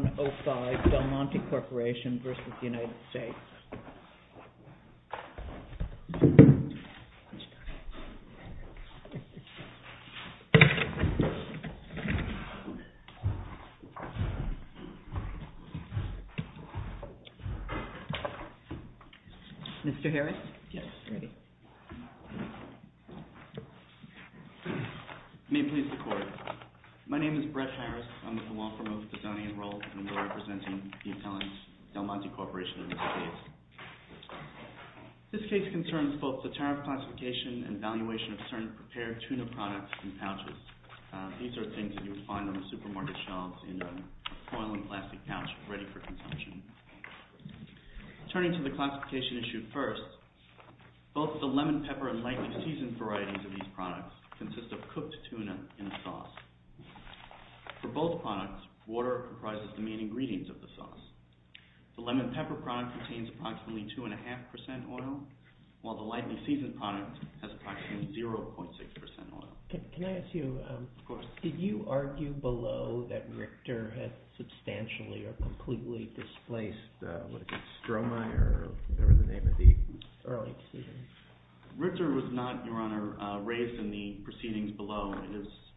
Mr. Harris? Yes. May it please the court. My name is Brett Harris. I'm with the law and we're representing the Italian Del Monte Corporation in the United States. This case concerns both the tariff classification and valuation of certain prepared tuna products in pouches. These are things that you would find on the supermarket shelves in a foil and plastic pouch ready for consumption. Turning to the classification issue first, both the lemon, pepper, and lightly seasoned varieties of these products consist of cooked tuna in a sauce. For both products, water comprises the main ingredients of the sauce. The lemon pepper product contains approximately 2.5% oil, while the lightly seasoned product has approximately 0.6% oil. Can I ask you, did you argue below that Richter had substantially or completely displaced Stromae or whatever the name of the early season? Richter was not, Your Honor, raised in the proceedings below.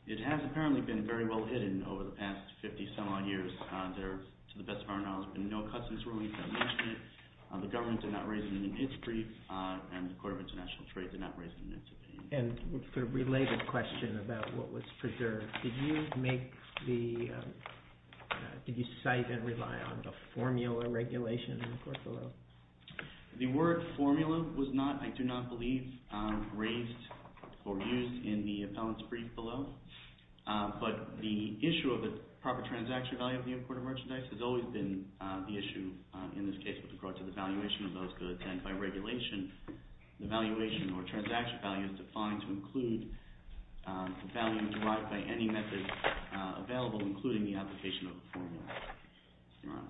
It has apparently been very well hidden over the past 50 some odd years. There, to the best of our knowledge, have been no cuts in this ruling. The government did not raise it in its brief, and the Court of International Trade did not raise it in its brief. And for a related question about what was preserved, did you cite and rely on the formula regulation in the court below? The word formula was not, I do not believe, raised or used in the appellant's brief below. But the issue of the proper transaction value of the imported merchandise has always been the issue in this case with regard to the valuation of those goods, and by regulation, the valuation or transaction value is defined to include the value derived by any method available, including the application of the formula.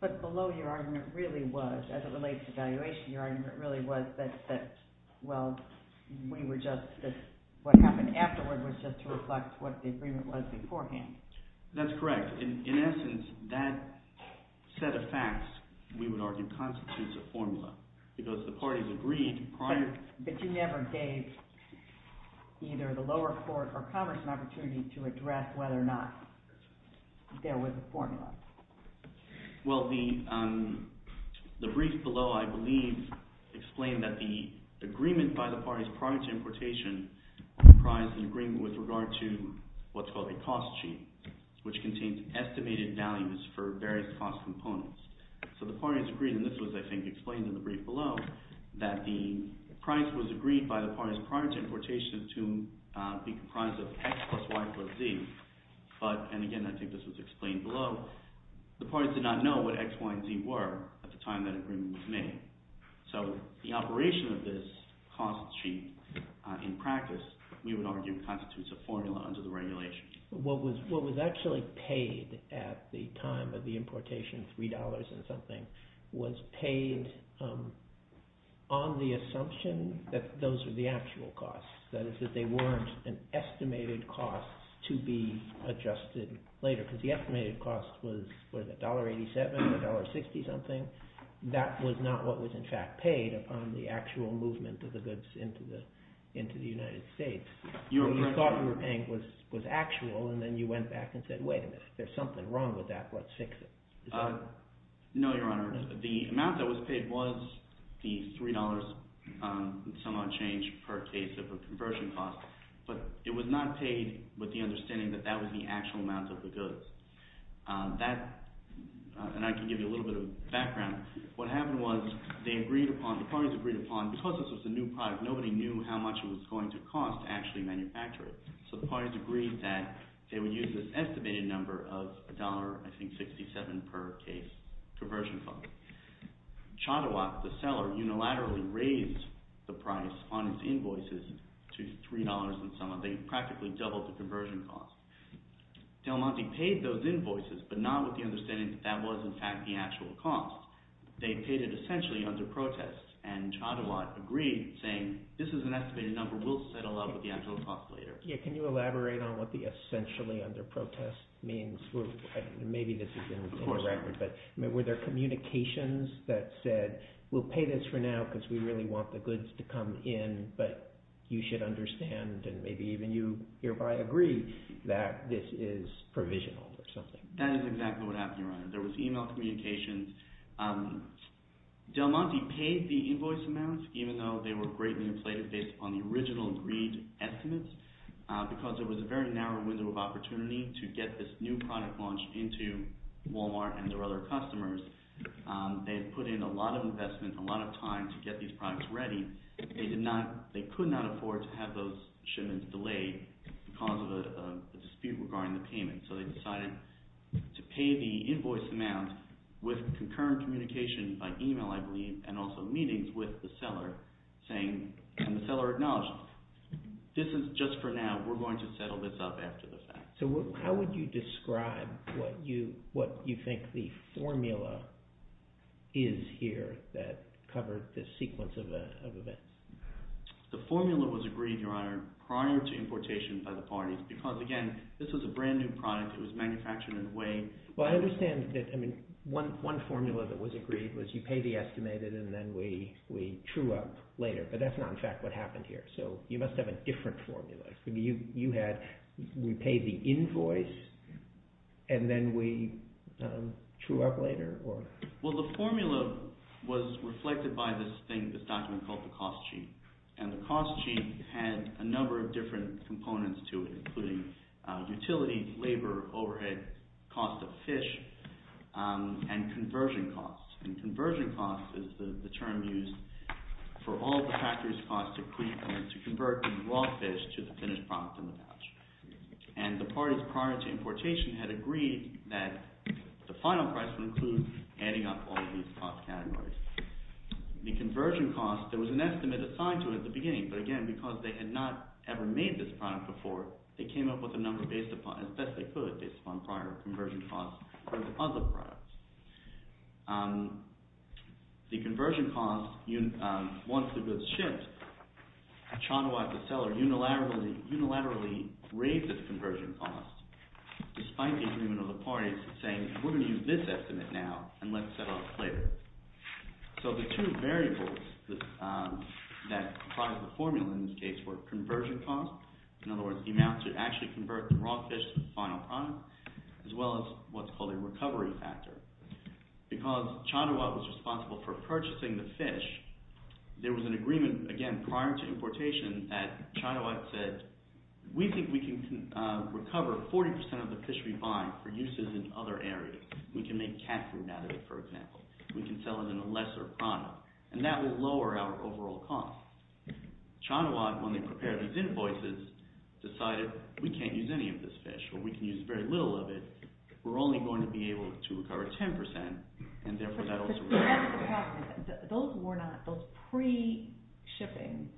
But below, your argument really was, as it relates to valuation, your argument really was that, well, we were just, what happened afterward was just to reflect what the agreement was beforehand. That's correct. In essence, that set of facts, we would argue, constitutes a formula, because the parties agreed prior... But you never gave either the lower court or Congress an opportunity to address whether or not there was a formula. Well, the brief below, I believe, explained that the agreement by the parties prior to importation comprised an agreement with regard to what's called a cost sheet, which contains estimated values for various cost components. So the parties agreed, and this was, I think, explained in the brief below, that the price was agreed by the parties prior to importation to be comprised of X plus Y plus Z. But, and again, I think this was explained below, the parties did not know what X, Y, and Z were at the time that agreement was made. So the operation of this cost sheet in practice, we would argue, constitutes a formula under the regulation. What was actually paid at the time of the importation, $3 and something, was paid on the assumption that those were the actual costs. That is, that they weren't an estimated cost to be adjusted later, because the estimated cost was $1.87 or $1.60 something. That was not what was, in fact, paid upon the actual movement of the goods into the United States. What you thought you were paying was actual, and then you went back and said, wait a minute. There's something wrong with that. Let's fix it. No, Your Honor. The amount that was paid was the $3 somewhat change per case of a conversion cost, but it was not paid with the understanding that that was the actual amount of the goods. That, and I can give you a little bit of background. What happened was they agreed upon, the parties agreed upon, because this was a new product, nobody knew how much it was going to cost to actually manufacture it. So the parties agreed that they would use this estimated number of $1.67 per case conversion cost. Chadawat, the seller, unilaterally raised the price on his invoices to $3 and something, practically doubled the conversion cost. Del Monte paid those invoices, but not with the understanding that that was, in fact, the actual cost. They paid it essentially under protest, and Chadawat agreed, saying, this is an estimated number. We'll settle up with the actual cost later. Can you elaborate on what the essentially under protest means? Maybe this is indirect, but were there communications that said, we'll pay this for now because we really want the goods to come in, but you should understand, and maybe even you hereby agree, that this is provisional or something? That is exactly what happened, Your Honor. There was email communications. Del Monte paid the invoice amounts, even though they were greatly inflated based upon the original agreed estimates, because there was a very narrow window of opportunity to get this new product launched into Walmart and their other customers. They had put in a lot of investment, a lot of time to get these products ready. They could not afford to have those shipments delayed because of a dispute regarding the payment, so they decided to pay the invoice amount with concurrent communication by email, I believe, and also meetings with the seller, and the seller acknowledged, this is just for now. We're going to settle this up after the fact. So how would you describe what you think the formula is here that covered this sequence of events? The formula was agreed, Your Honor, prior to importation by the parties, because again, this was a brand new product. It was manufactured in a way… Well, I understand that one formula that was agreed was you pay the estimated and then we true up later, but that's not in fact what happened here, so you must have a different formula. You had, we paid the invoice and then we true up later? Well, the formula was reflected by this thing, this document called the cost sheet, and the cost sheet had a number of different components to it, including utility, labor, overhead, cost of fish, and conversion cost, and conversion cost is the term used for all the factory's cost to convert the raw fish to the finished product in the pouch, and the parties prior to importation had agreed that the final price would include adding up all of these cost categories. The conversion cost, there was an estimate assigned to it at the beginning, but again, because they had not ever made this product before, they came up with a number based upon, as best they could, based upon prior conversion costs for the other products. The conversion cost, once the goods shipped, Chanois, the seller, unilaterally raised the conversion cost, despite the agreement of the parties saying, we're going to use this estimate now and let's set off later. So the two variables that provide the formula in this case were conversion cost, in other words, the amount to actually convert the raw fish to the final product, as well as what's called a recovery factor. Because Chanois was responsible for purchasing the fish, there was an agreement, again, prior to importation that Chanois said, we think we can recover 40% of the fish we buy for uses in other areas. We can make cat food out of it, for example. We can sell it in a lesser product, and that will lower our overall cost. Chanois, when they prepared these invoices, decided, we can't use any of this fish, or we can use very little of it. We're only going to be able to recover 10%, and therefore that also... Those pre-shipping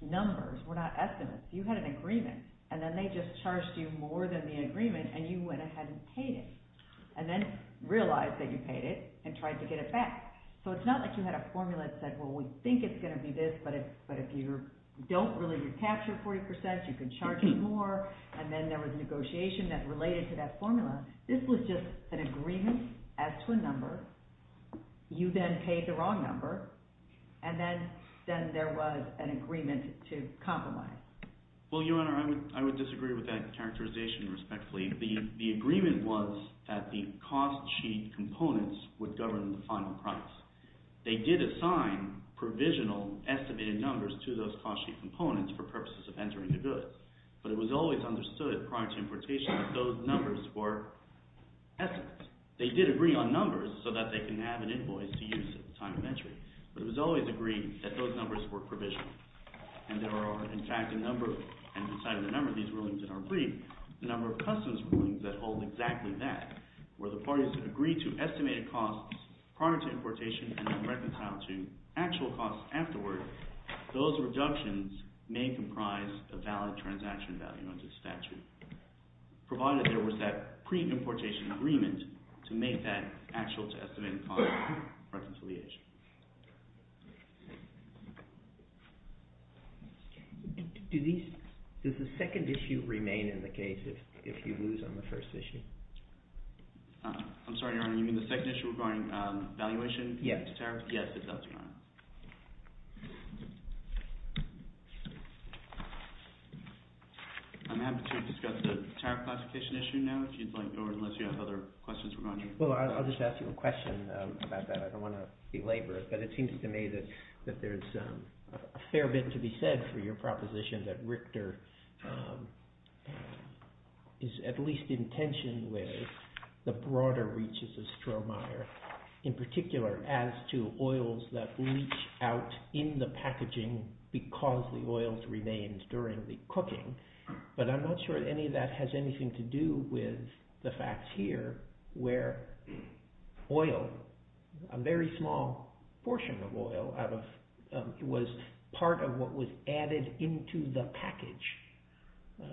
numbers were not estimates. You had an agreement, and then they just charged you more than the agreement, and you went ahead and paid it, and then realized that you paid it, and tried to get it back. So it's not like you had a formula that said, well, we think it's going to be this, but if you don't really recapture 40%, you can charge more, and then there was negotiation that related to that formula. This was just an agreement as to a number. You then paid the wrong number, and then there was an agreement to compromise. Well, Your Honor, I would disagree with that characterization, respectfully. The agreement was that the cost sheet components would govern the final price. They did assign provisional estimated numbers to those cost sheet components for purposes of entering the goods, but it was always understood prior to importation that those numbers were estimates. They did agree on numbers so that they can have an invoice to use at the time of entry, but it was always agreed that those numbers were provisional, and there are, in fact, a number of these rulings in our brief, the number of customs rulings that hold exactly that, where the parties agree to estimated costs prior to importation and then reconcile to actual costs afterward, those reductions may comprise a valid transaction value under the statute, provided there was that pre-importation agreement to make that actual to estimated cost reconciliation. Does the second issue remain in the case if you lose on the first issue? I'm sorry, Your Honor. You mean the second issue regarding valuation? Yes. Yes, it does, Your Honor. I'm happy to discuss the tariff classification issue now, if you'd like, or unless you have other questions regarding it. Well, I'll just ask you a question about that. I don't want to belabor it, but it seems to me that there's a fair bit to be said for your proposition that Richter is at least in tension with the broader reaches of Strohmeyer, in particular as to oils that reach out in the packaging because the oils remained during the cooking, but I'm not sure any of that has anything to do with the facts here where oil, a very small portion of oil, was part of what was added into the package.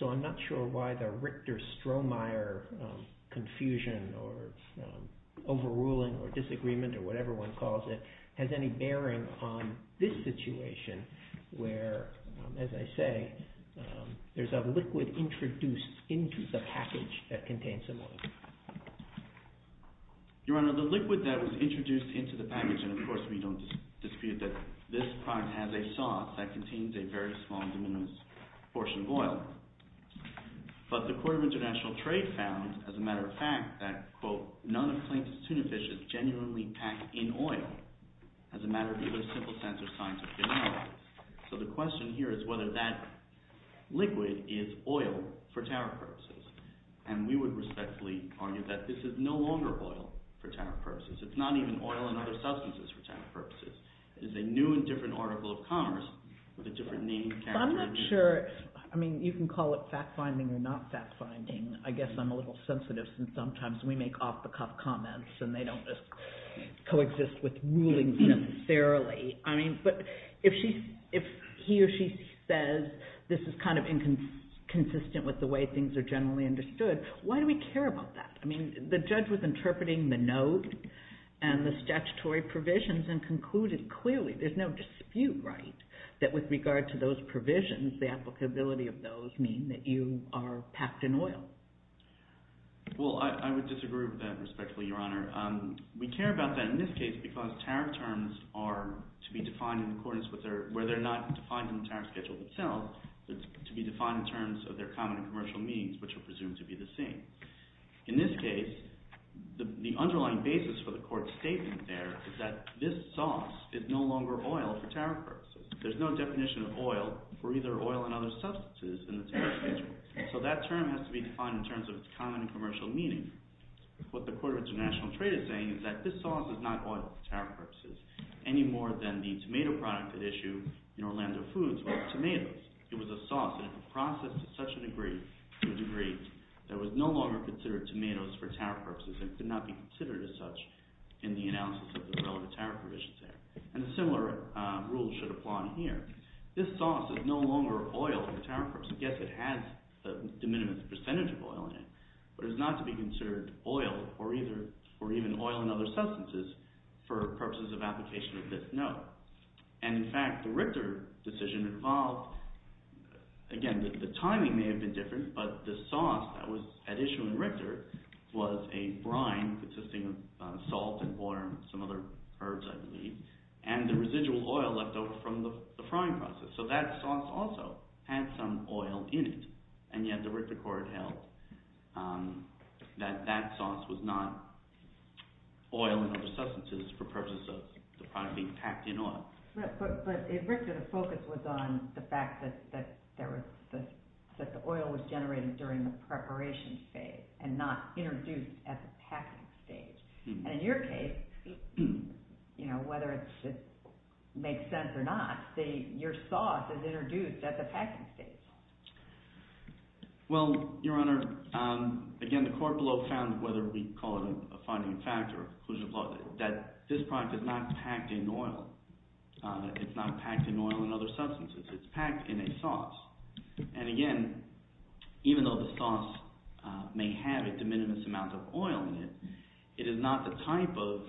So I'm not sure why the Richter-Strohmeyer confusion or overruling or disagreement or whatever one calls it has any bearing on this situation where, as I say, there's a liquid introduced into the package that contains some oil. Your Honor, the liquid that was introduced into the package, and of course we don't dispute that this product has a sauce that contains a very small and diminished portion of oil, but the Court of International Trade found, as a matter of fact, that, quote, none of the claims of tuna fish is genuinely packed in oil as a matter of either simple sense or scientific analysis. So the question here is whether that liquid is oil for tariff purposes, and we would respectfully argue that this is no longer oil for tariff purposes. It's not even oil and other substances for tariff purposes. It is a new and different article of commerce with a different name and character. I'm not sure. I mean, you can call it fact-finding or not fact-finding. I guess I'm a little sensitive since sometimes we make off-the-cuff comments and they don't just coexist with rulings necessarily. I mean, but if he or she says this is kind of inconsistent with the way things are generally understood, why do we care about that? I mean, the judge was interpreting the note and the statutory provisions and concluded clearly, there's no dispute right, that with regard to those provisions, the applicability of those mean that you are packed in oil. Well, I would disagree with that respectfully, Your Honor. We care about that in this case because tariff terms are to be defined in accordance with their, where they're not defined in the tariff schedule itself, it's to be defined in terms of their common and commercial means, which are presumed to be the same. In this case, the underlying basis for the court's statement there is that this sauce is no longer oil for tariff purposes. There's no definition of oil or either oil and other substances in the tariff schedule. So that term has to be defined in terms of its common and commercial meaning. What the Court of International Trade is saying is that this sauce is not oil for tariff purposes any more than the tomato product at issue in Orlando Foods was tomatoes. It was a sauce and it was processed to such a degree that it was no longer considered tomatoes for tariff purposes and could not be considered as such in the analysis of the relevant tariff provisions there. And a similar rule should apply here. This sauce is no longer oil for tariff purposes. Yes, it has the minimum percentage of oil in it, but it is not to be considered oil or even oil and other substances for purposes of application of this note. And in fact, the Richter decision involved, again, the timing may have been different, but the sauce that was at issue in Richter was a brine consisting of salt and oil and some other herbs I believe, and the residual oil left over from the frying process. So that sauce also had some oil in it, and yet the Richter Court held that that sauce was not oil and other substances for purposes of the product being packed in oil. But in Richter, the focus was on the fact that the oil was generated during the preparation phase and not introduced at the packing stage. And in your case, whether it makes sense or not, your sauce is introduced at the packing stage. Well, Your Honor, again, the court below found whether we call it a finding factor, that this product is not packed in oil. It's not packed in oil and other substances. It's packed in a sauce. And again, even though the sauce may have a de minimis amount of oil in it, it is not the type of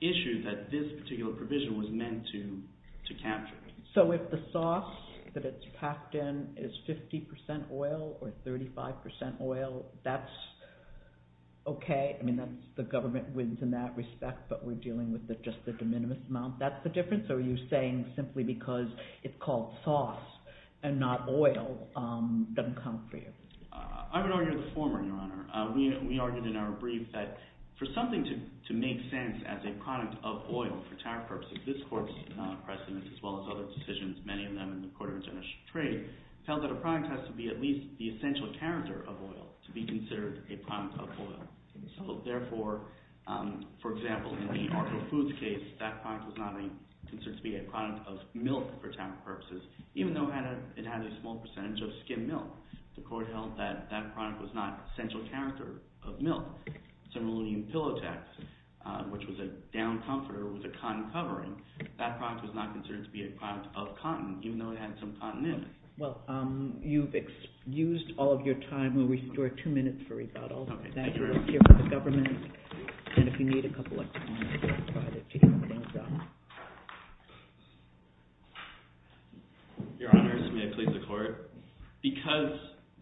issue that this particular provision was meant to capture. So if the sauce that it's packed in is 50 percent oil or 35 percent oil, that's okay? I mean, the government wins in that respect, but we're dealing with just the de minimis amount. That's the difference? Or are you saying simply because it's called sauce and not oil doesn't count for you? I would argue the former, Your Honor. We argued in our brief that for something to make sense as a product of oil for tariff purposes, this court's precedent, as well as other decisions, many of them in the Court of Administrative Trade, held that a product has to be at least the essential character of oil to be considered a product of oil. So therefore, for example, in the Argo Foods case, that product was not considered to be a product of milk for tariff purposes, even though it had a small percentage of skim milk. The court held that that product was not essential character of milk. Similarly, in Pillow Tax, which was a down comforter with a cotton covering, that product was not considered to be a product of cotton, even though it had some cotton in it. Well, you've used all of your time. We'll restore two minutes for rebuttal. Thank you Your Honor, may I plead the court? Because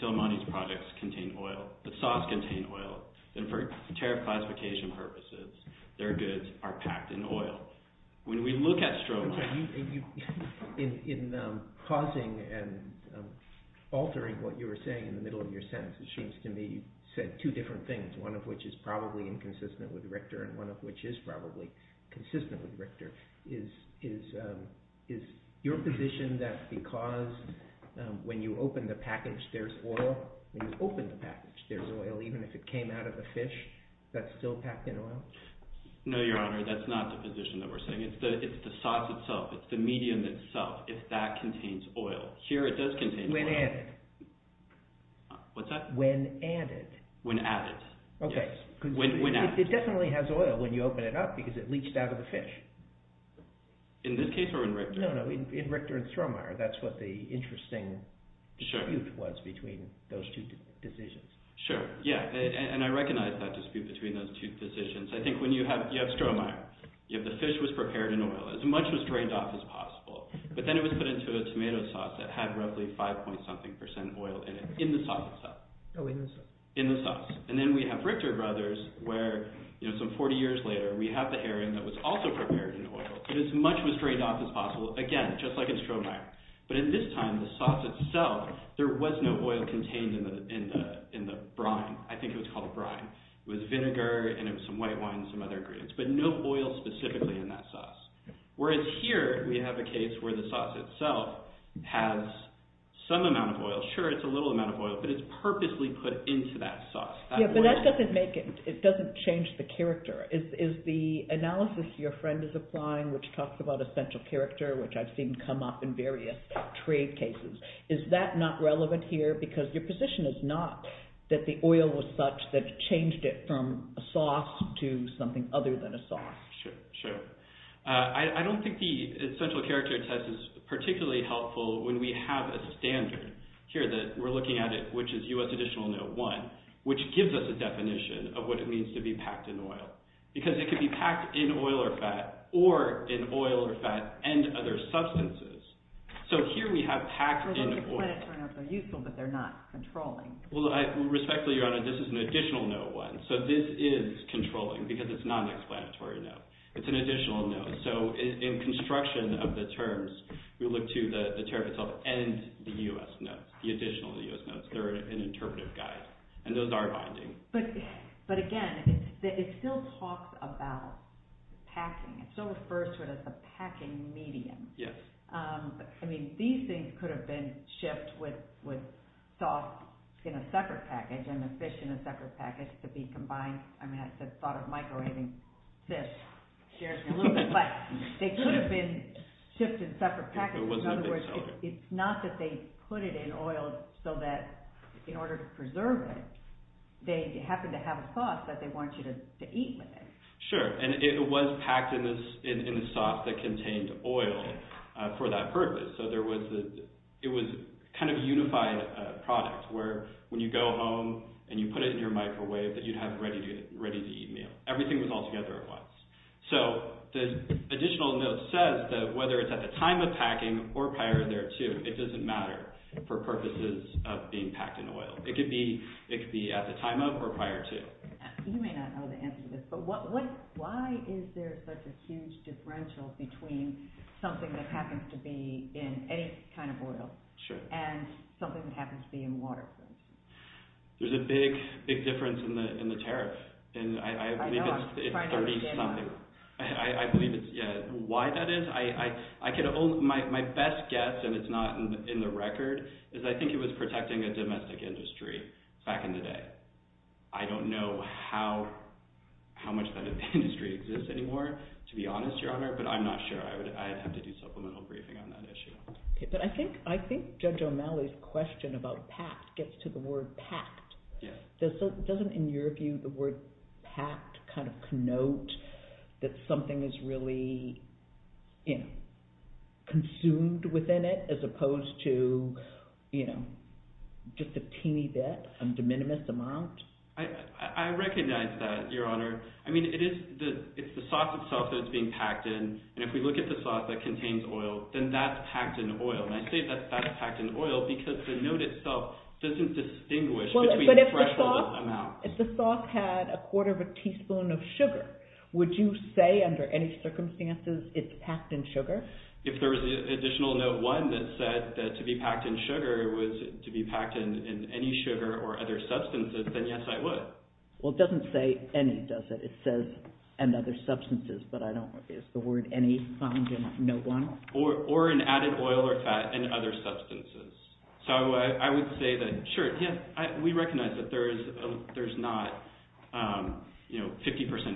Del Monte's products contain oil, the sauce contain oil, and for tariff classification purposes, their goods are packed in oil. When we look at Strohmeyer... In causing and altering what you were saying in the middle of your sentence, it seems to me you said two different things, one of which is probably inconsistent with Richter, and one of which is probably consistent with Richter. Is your position that because when you open the package, there's oil? When you open the package, there's oil, even if it came out of the fish, that's still packed in oil? No, Your Honor, that's not the position that we're saying. It's the sauce itself. It's the medium itself, if that contains oil. Here, it does contain oil. When added. What's that? When added. When added. Okay. When added. It definitely has oil when you open it up because it leached out of the fish. In this case or in Richter? No, no, in Richter and Strohmeyer. That's what the interesting dispute was between those two decisions. Sure, yeah, and I recognize that dispute between those two decisions. I think when you have Strohmeyer, the fish was prepared in oil, as much was drained off as possible, but then it was put into a tomato sauce that had roughly 5 point something percent oil in it, in the sauce itself. Oh, in the sauce. In the sauce. And then we have Richter Brothers, where some 40 years later, we have the herring that was also prepared in oil, but as much was drained off as possible, again, just like in Strohmeyer. But in this time, the sauce itself, there was no oil contained in the brine. I think it was called brine. It was vinegar and it was some white wine and some other ingredients, but no oil specifically in that sauce. Whereas here, we have a case where the sauce itself has some amount of oil. Sure, it's a little amount of oil, but it's purposely put into that sauce. Yeah, but that doesn't make it, it doesn't change the character. Is the analysis your friend is applying, which talks about essential character, which I've seen come up in various trade cases, is that not relevant here? Because your position is not that the oil was such that it changed it from a sauce to something other than a sauce. Sure, sure. I don't think the essential character test is particularly helpful when we have a standard here that we're looking at, which is U.S. Additional Note 1, which gives us a definition of what it means to be packed in oil. Because it could be packed in oil or fat, or in oil or fat and other substances. So here we have packed in oil. Well, those explanatory notes are useful, but they're not controlling. Well, respectfully, Your Honor, this is an Additional Note 1, so this is controlling because it's not an explanatory note. It's an additional note. So in construction of the terms, we look to the tariff itself and the U.S. notes, the additional U.S. notes. They're an interpretive guide, and those are binding. But again, it still talks about packing. It still refers to it as a packing medium. Yes. I mean, these things could have been shipped with sauce in a separate package and the fish in a separate package to be combined. I mean, I just thought of microwaving fish. It scares me a little bit. But they could have been shipped in separate packages. In other words, it's not that they put it in oil so that in order to preserve it, they happen to have a sauce that they want you to eat with it. Sure, and it was packed in a sauce that contained oil for that purpose. So it was kind of a unified product where when you go home and you put it in your microwave, that you'd have ready-to-eat meal. Everything was all together at once. So the additional note says that whether it's at the time of packing or prior thereto, it doesn't matter for purposes of being packed in oil. It could be at the time of or prior to. You may not know the answer to this, but why is there such a huge differential between something that happens to be in any kind of oil and something that happens to be in water? There's a big, big difference in the tariff. I know. I'm trying to understand why. I believe it's 30-something. Why that is, my best guess, and it's not in the record, is I think it was protecting a domestic industry back in the day. I don't know how much that industry exists anymore, to be honest, Your Honor, but I'm not sure. I'd have to do supplemental briefing on that issue. But I think Judge O'Malley's question about packed gets to the word packed. Doesn't, in your view, the word packed kind of connote that something is really consumed within it as opposed to just a teeny bit, a de minimis amount? I recognize that, Your Honor. I mean, it's the sauce itself that's being packed in, and if we look at the sauce that contains oil, then that's packed in oil. And I say that that's packed in oil because the note itself doesn't distinguish between fresh or amount. If the sauce had a quarter of a teaspoon of sugar, would you say under any circumstances it's packed in sugar? If there was an additional note 1 that said that to be packed in sugar was to be packed in any sugar or other substances, then yes, I would. Well, it doesn't say any, does it? It says and other substances, but I don't know. Is the word any found in note 1? Or in added oil or fat and other substances. So I would say that, sure, yes, we recognize that there's not 50%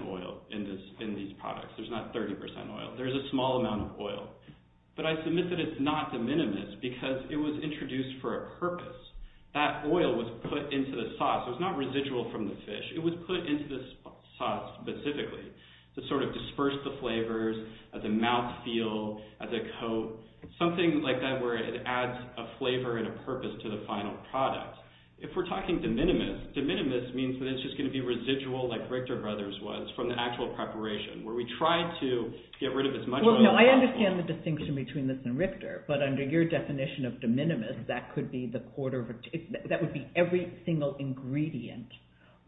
oil in these products. There's not 30% oil. There's a small amount of oil. But I submit that it's not de minimis because it was introduced for a purpose. That oil was put into the sauce. It was not residual from the fish. It was put into the sauce specifically to sort of disperse the flavors, the mouthfeel, the coat, something like that where it adds a flavor and a purpose to the final product. If we're talking de minimis, de minimis means that it's just going to be residual like Richter Brothers was from the actual preparation where we tried to get rid of as much of it as possible. Well, no, I understand the distinction between this and Richter, but under your definition of de minimis, that would be every single ingredient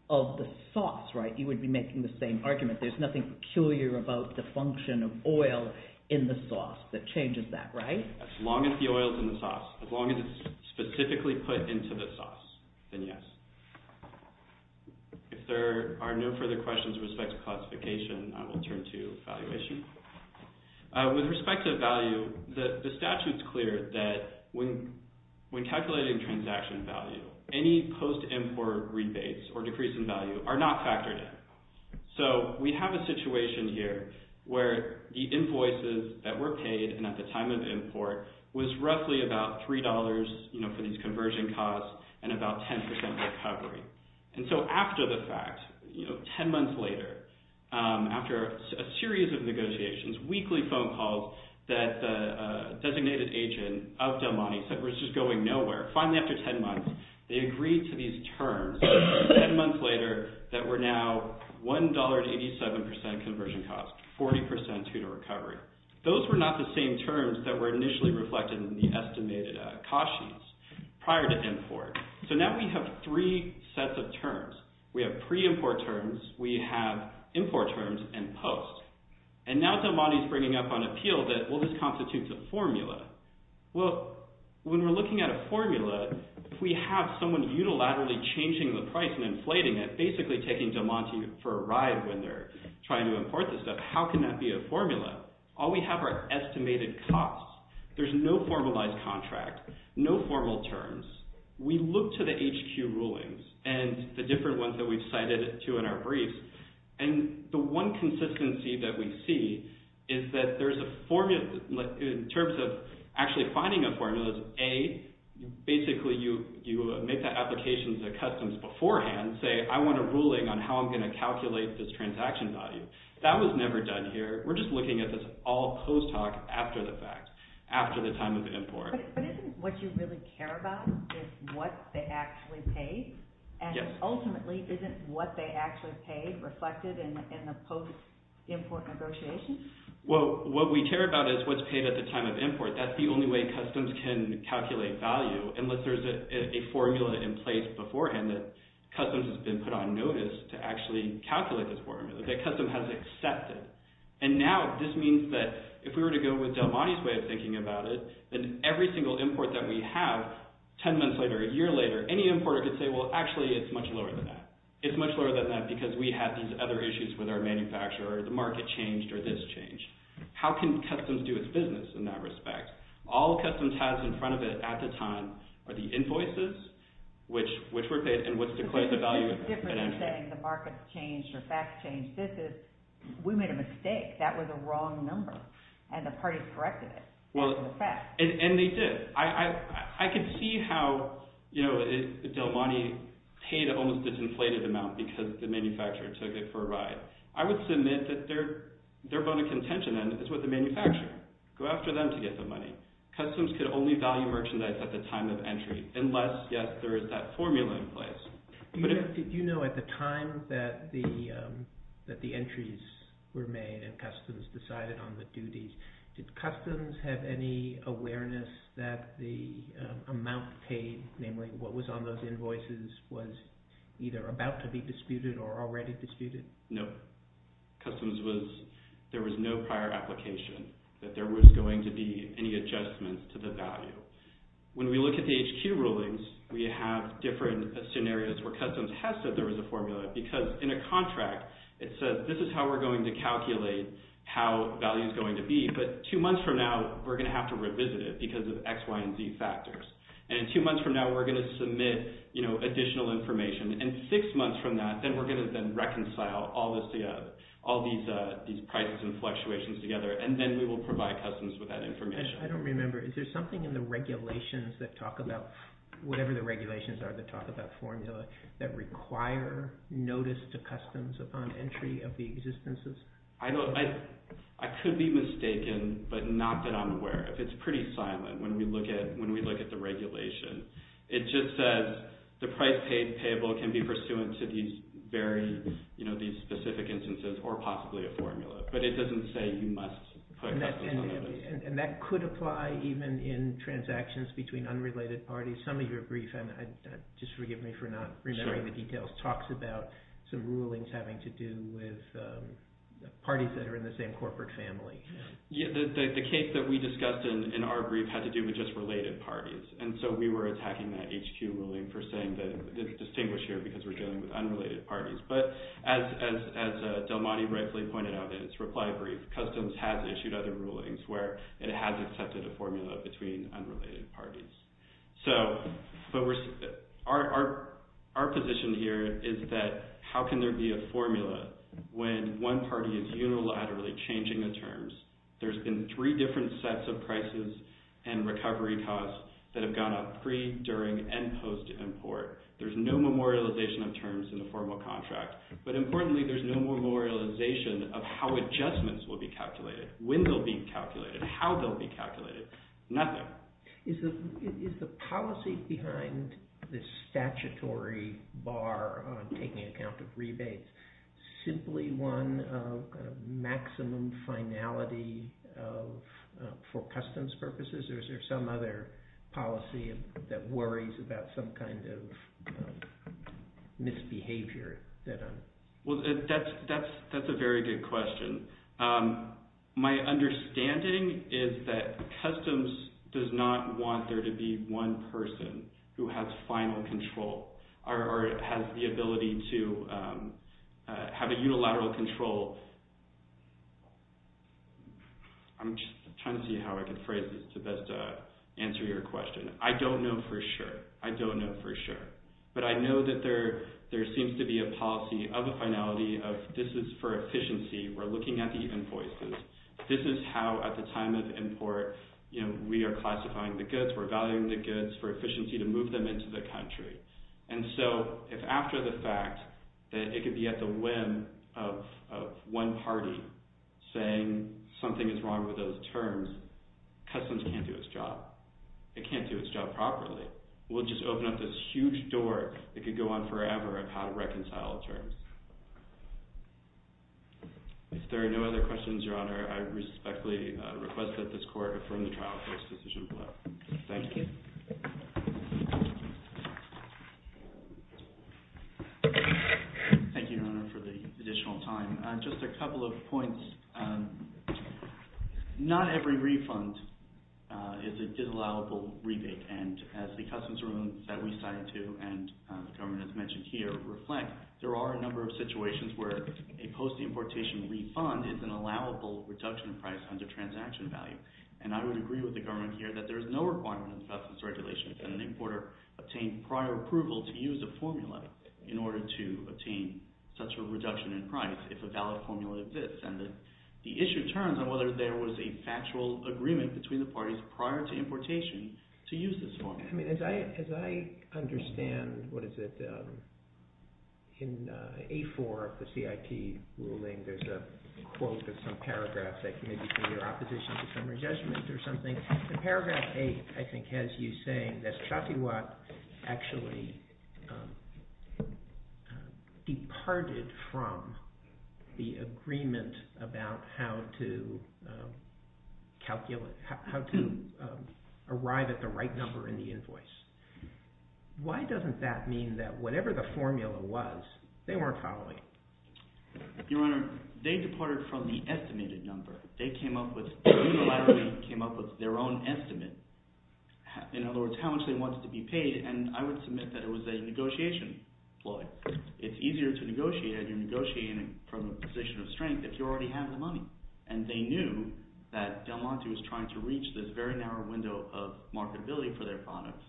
of the sauce, right? You would be making the same argument. There's nothing peculiar about the function of oil in the sauce that changes that, right? As long as the oil is in the sauce, as long as it's specifically put into the sauce, then yes. If there are no further questions with respect to classification, I will turn to valuation. With respect to value, the statute's clear that when calculating transaction value, any post-import rebates or decrease in value are not factored in. So we have a situation here where the invoices that were paid and at the time of import was roughly about $3 for these conversion costs and about 10% recovery. And so after the fact, 10 months later, after a series of negotiations, weekly phone calls that the designated agent of Del Monte said was just going nowhere, finally after 10 months, they agreed to these terms 10 months later that were now $1.87 conversion costs, 40% to the recovery. Those were not the same terms that were initially reflected in the estimated cautions prior to import. So now we have three sets of terms. We have pre-import terms, we have import terms, and post. And now Del Monte's bringing up on appeal that, well, this constitutes a formula. Well, when we're looking at a formula, if we have someone unilaterally changing the price and inflating it, basically taking Del Monte for a ride when they're trying to import this stuff, how can that be a formula? All we have are estimated costs. There's no formalized contract, no formal terms. We look to the HQ rulings and the different ones that we've cited too in our briefs, and the one consistency that we see is that there's a formula in terms of actually finding a formula. A, basically you make that application to customs beforehand, say, I want a ruling on how I'm going to calculate this transaction value. That was never done here. We're just looking at this all post hoc after the fact, after the time of import. But isn't what you really care about is what they actually paid? Yes. And ultimately, isn't what they actually paid reflected in the post-import negotiations? Well, what we care about is what's paid at the time of import. That's the only way customs can calculate value unless there's a formula in place beforehand that customs has been put on notice to actually calculate this formula, that customs has accepted. And now this means that if we were to go with Del Monte's way of thinking about it, then every single import that we have 10 months later, a year later, any importer could say, well, actually, it's much lower than that. It's much lower than that because we have these other issues with our manufacturer. The market changed or this changed. How can customs do its business in that respect? All customs has in front of it at the time are the invoices, which were paid, and what's declared the value of the inventory. I'm not saying the markets changed or facts changed. We made a mistake. That was a wrong number, and the parties corrected it. And they did. I can see how Del Monte paid an almost disinflated amount because the manufacturer took it for a ride. I would submit that their bone of contention, then, is with the manufacturer. Go after them to get the money. Customs could only value merchandise at the time of entry unless, yes, there is that formula in place. Did you know at the time that the entries were made and customs decided on the duties, did customs have any awareness that the amount paid, namely what was on those invoices, was either about to be disputed or already disputed? No. Customs was there was no prior application, that there was going to be any adjustment to the value. When we look at the HQ rulings, we have different scenarios where customs has said there was a formula because, in a contract, it says this is how we're going to calculate how value is going to be. But two months from now, we're going to have to revisit it because of X, Y, and Z factors. And two months from now, we're going to submit additional information. And six months from that, then we're going to then reconcile all these prices and fluctuations together, and then we will provide customs with that information. I don't remember. Is there something in the regulations that talk about, whatever the regulations are that talk about formula, that require notice to customs upon entry of the existences? I could be mistaken, but not that I'm aware of. It's pretty silent when we look at the regulation. It just says the price paid payable can be pursuant to these specific instances or possibly a formula. But it doesn't say you must put customs on notice. And that could apply even in transactions between unrelated parties. Some of your brief, and just forgive me for not remembering the details, talks about some rulings having to do with parties that are in the same corporate family. The case that we discussed in our brief had to do with just related parties, and so we were attacking that HQ ruling for saying that it's distinguished here because we're dealing with unrelated parties. But as Del Monte rightfully pointed out in his reply brief, customs has issued other rulings where it has accepted a formula between unrelated parties. So our position here is that how can there be a formula when one party is unilaterally changing the terms? There's been three different sets of prices and recovery costs that have gone up pre-, during-, and post-import. There's no memorialization of terms in the formal contract. But importantly, there's no memorialization of how adjustments will be calculated, when they'll be calculated, how they'll be calculated, nothing. Is the policy behind this statutory bar on taking account of rebates simply one of maximum finality for customs purposes? Or is there some other policy that worries about some kind of misbehavior? Well, that's a very good question. My understanding is that customs does not want there to be one person who has final control or has the ability to have a unilateral control. I'm just trying to see how I can phrase this to best answer your question. I don't know for sure. I don't know for sure. But I know that there seems to be a policy of a finality of this is for efficiency. We're looking at the invoices. This is how at the time of import, you know, we are classifying the goods. We're valuing the goods for efficiency to move them into the country. And so if after the fact that it could be at the whim of one party saying something is wrong with those terms, customs can't do its job. It can't do its job properly. We'll just open up this huge door that could go on forever of how to reconcile terms. If there are no other questions, Your Honor, I respectfully request that this court affirm the trial court's decision below. Thank you. Thank you, Your Honor, for the additional time. Just a couple of points. Not every refund is a disallowable rebate. And as the customs rules that we cited to and the government has mentioned here reflect, there are a number of situations where a post-importation refund is an allowable reduction in price under transaction value. And I would agree with the government here that there is no requirement in the customs regulations that an importer obtain prior approval to use a formula in order to obtain such a reduction in price if a valid formula exists. And the issue turns on whether there was a factual agreement between the parties prior to importation to use this formula. As I understand, what is it, in A4 of the CIT ruling, there's a quote of some paragraph that can maybe be your opposition to summary judgment or something. Paragraph 8, I think, has you saying that Shafiwat actually departed from the agreement about how to arrive at the right number in the invoice. Why doesn't that mean that whatever the formula was, they weren't following? Your Honor, they departed from the estimated number. They came up with – they unilaterally came up with their own estimate. In other words, how much they wanted to be paid, and I would submit that it was a negotiation ploy. It's easier to negotiate if you're negotiating from a position of strength if you already have the money. And they knew that Del Monte was trying to reach this very narrow window of marketability for their products.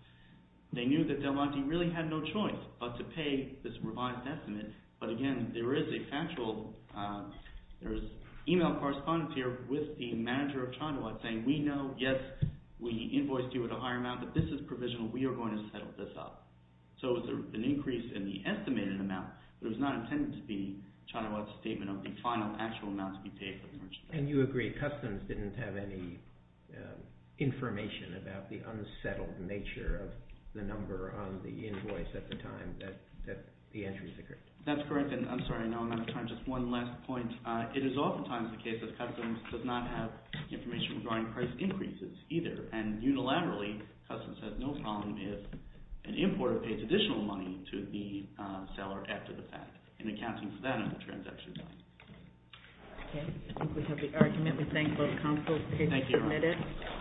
They knew that Del Monte really had no choice but to pay this revised estimate. But again, there is a factual – there is email correspondence here with the manager of Chaniwat saying, we know, yes, we invoiced you at a higher amount, but this is provisional. We are going to settle this up. So it was an increase in the estimated amount, but it was not intended to be Chaniwat's statement of the final actual amount to be paid. And you agree, Customs didn't have any information about the unsettled nature of the number on the invoice at the time that the entries occurred. That's correct, and I'm sorry. I know I'm out of time. Just one last point. It is oftentimes the case that Customs does not have information regarding price increases either, and unilaterally Customs has no problem if an importer pays additional money to the seller after the fact in accounting for that transaction. Okay, I think we have the argument. We thank both counsels. Thank you.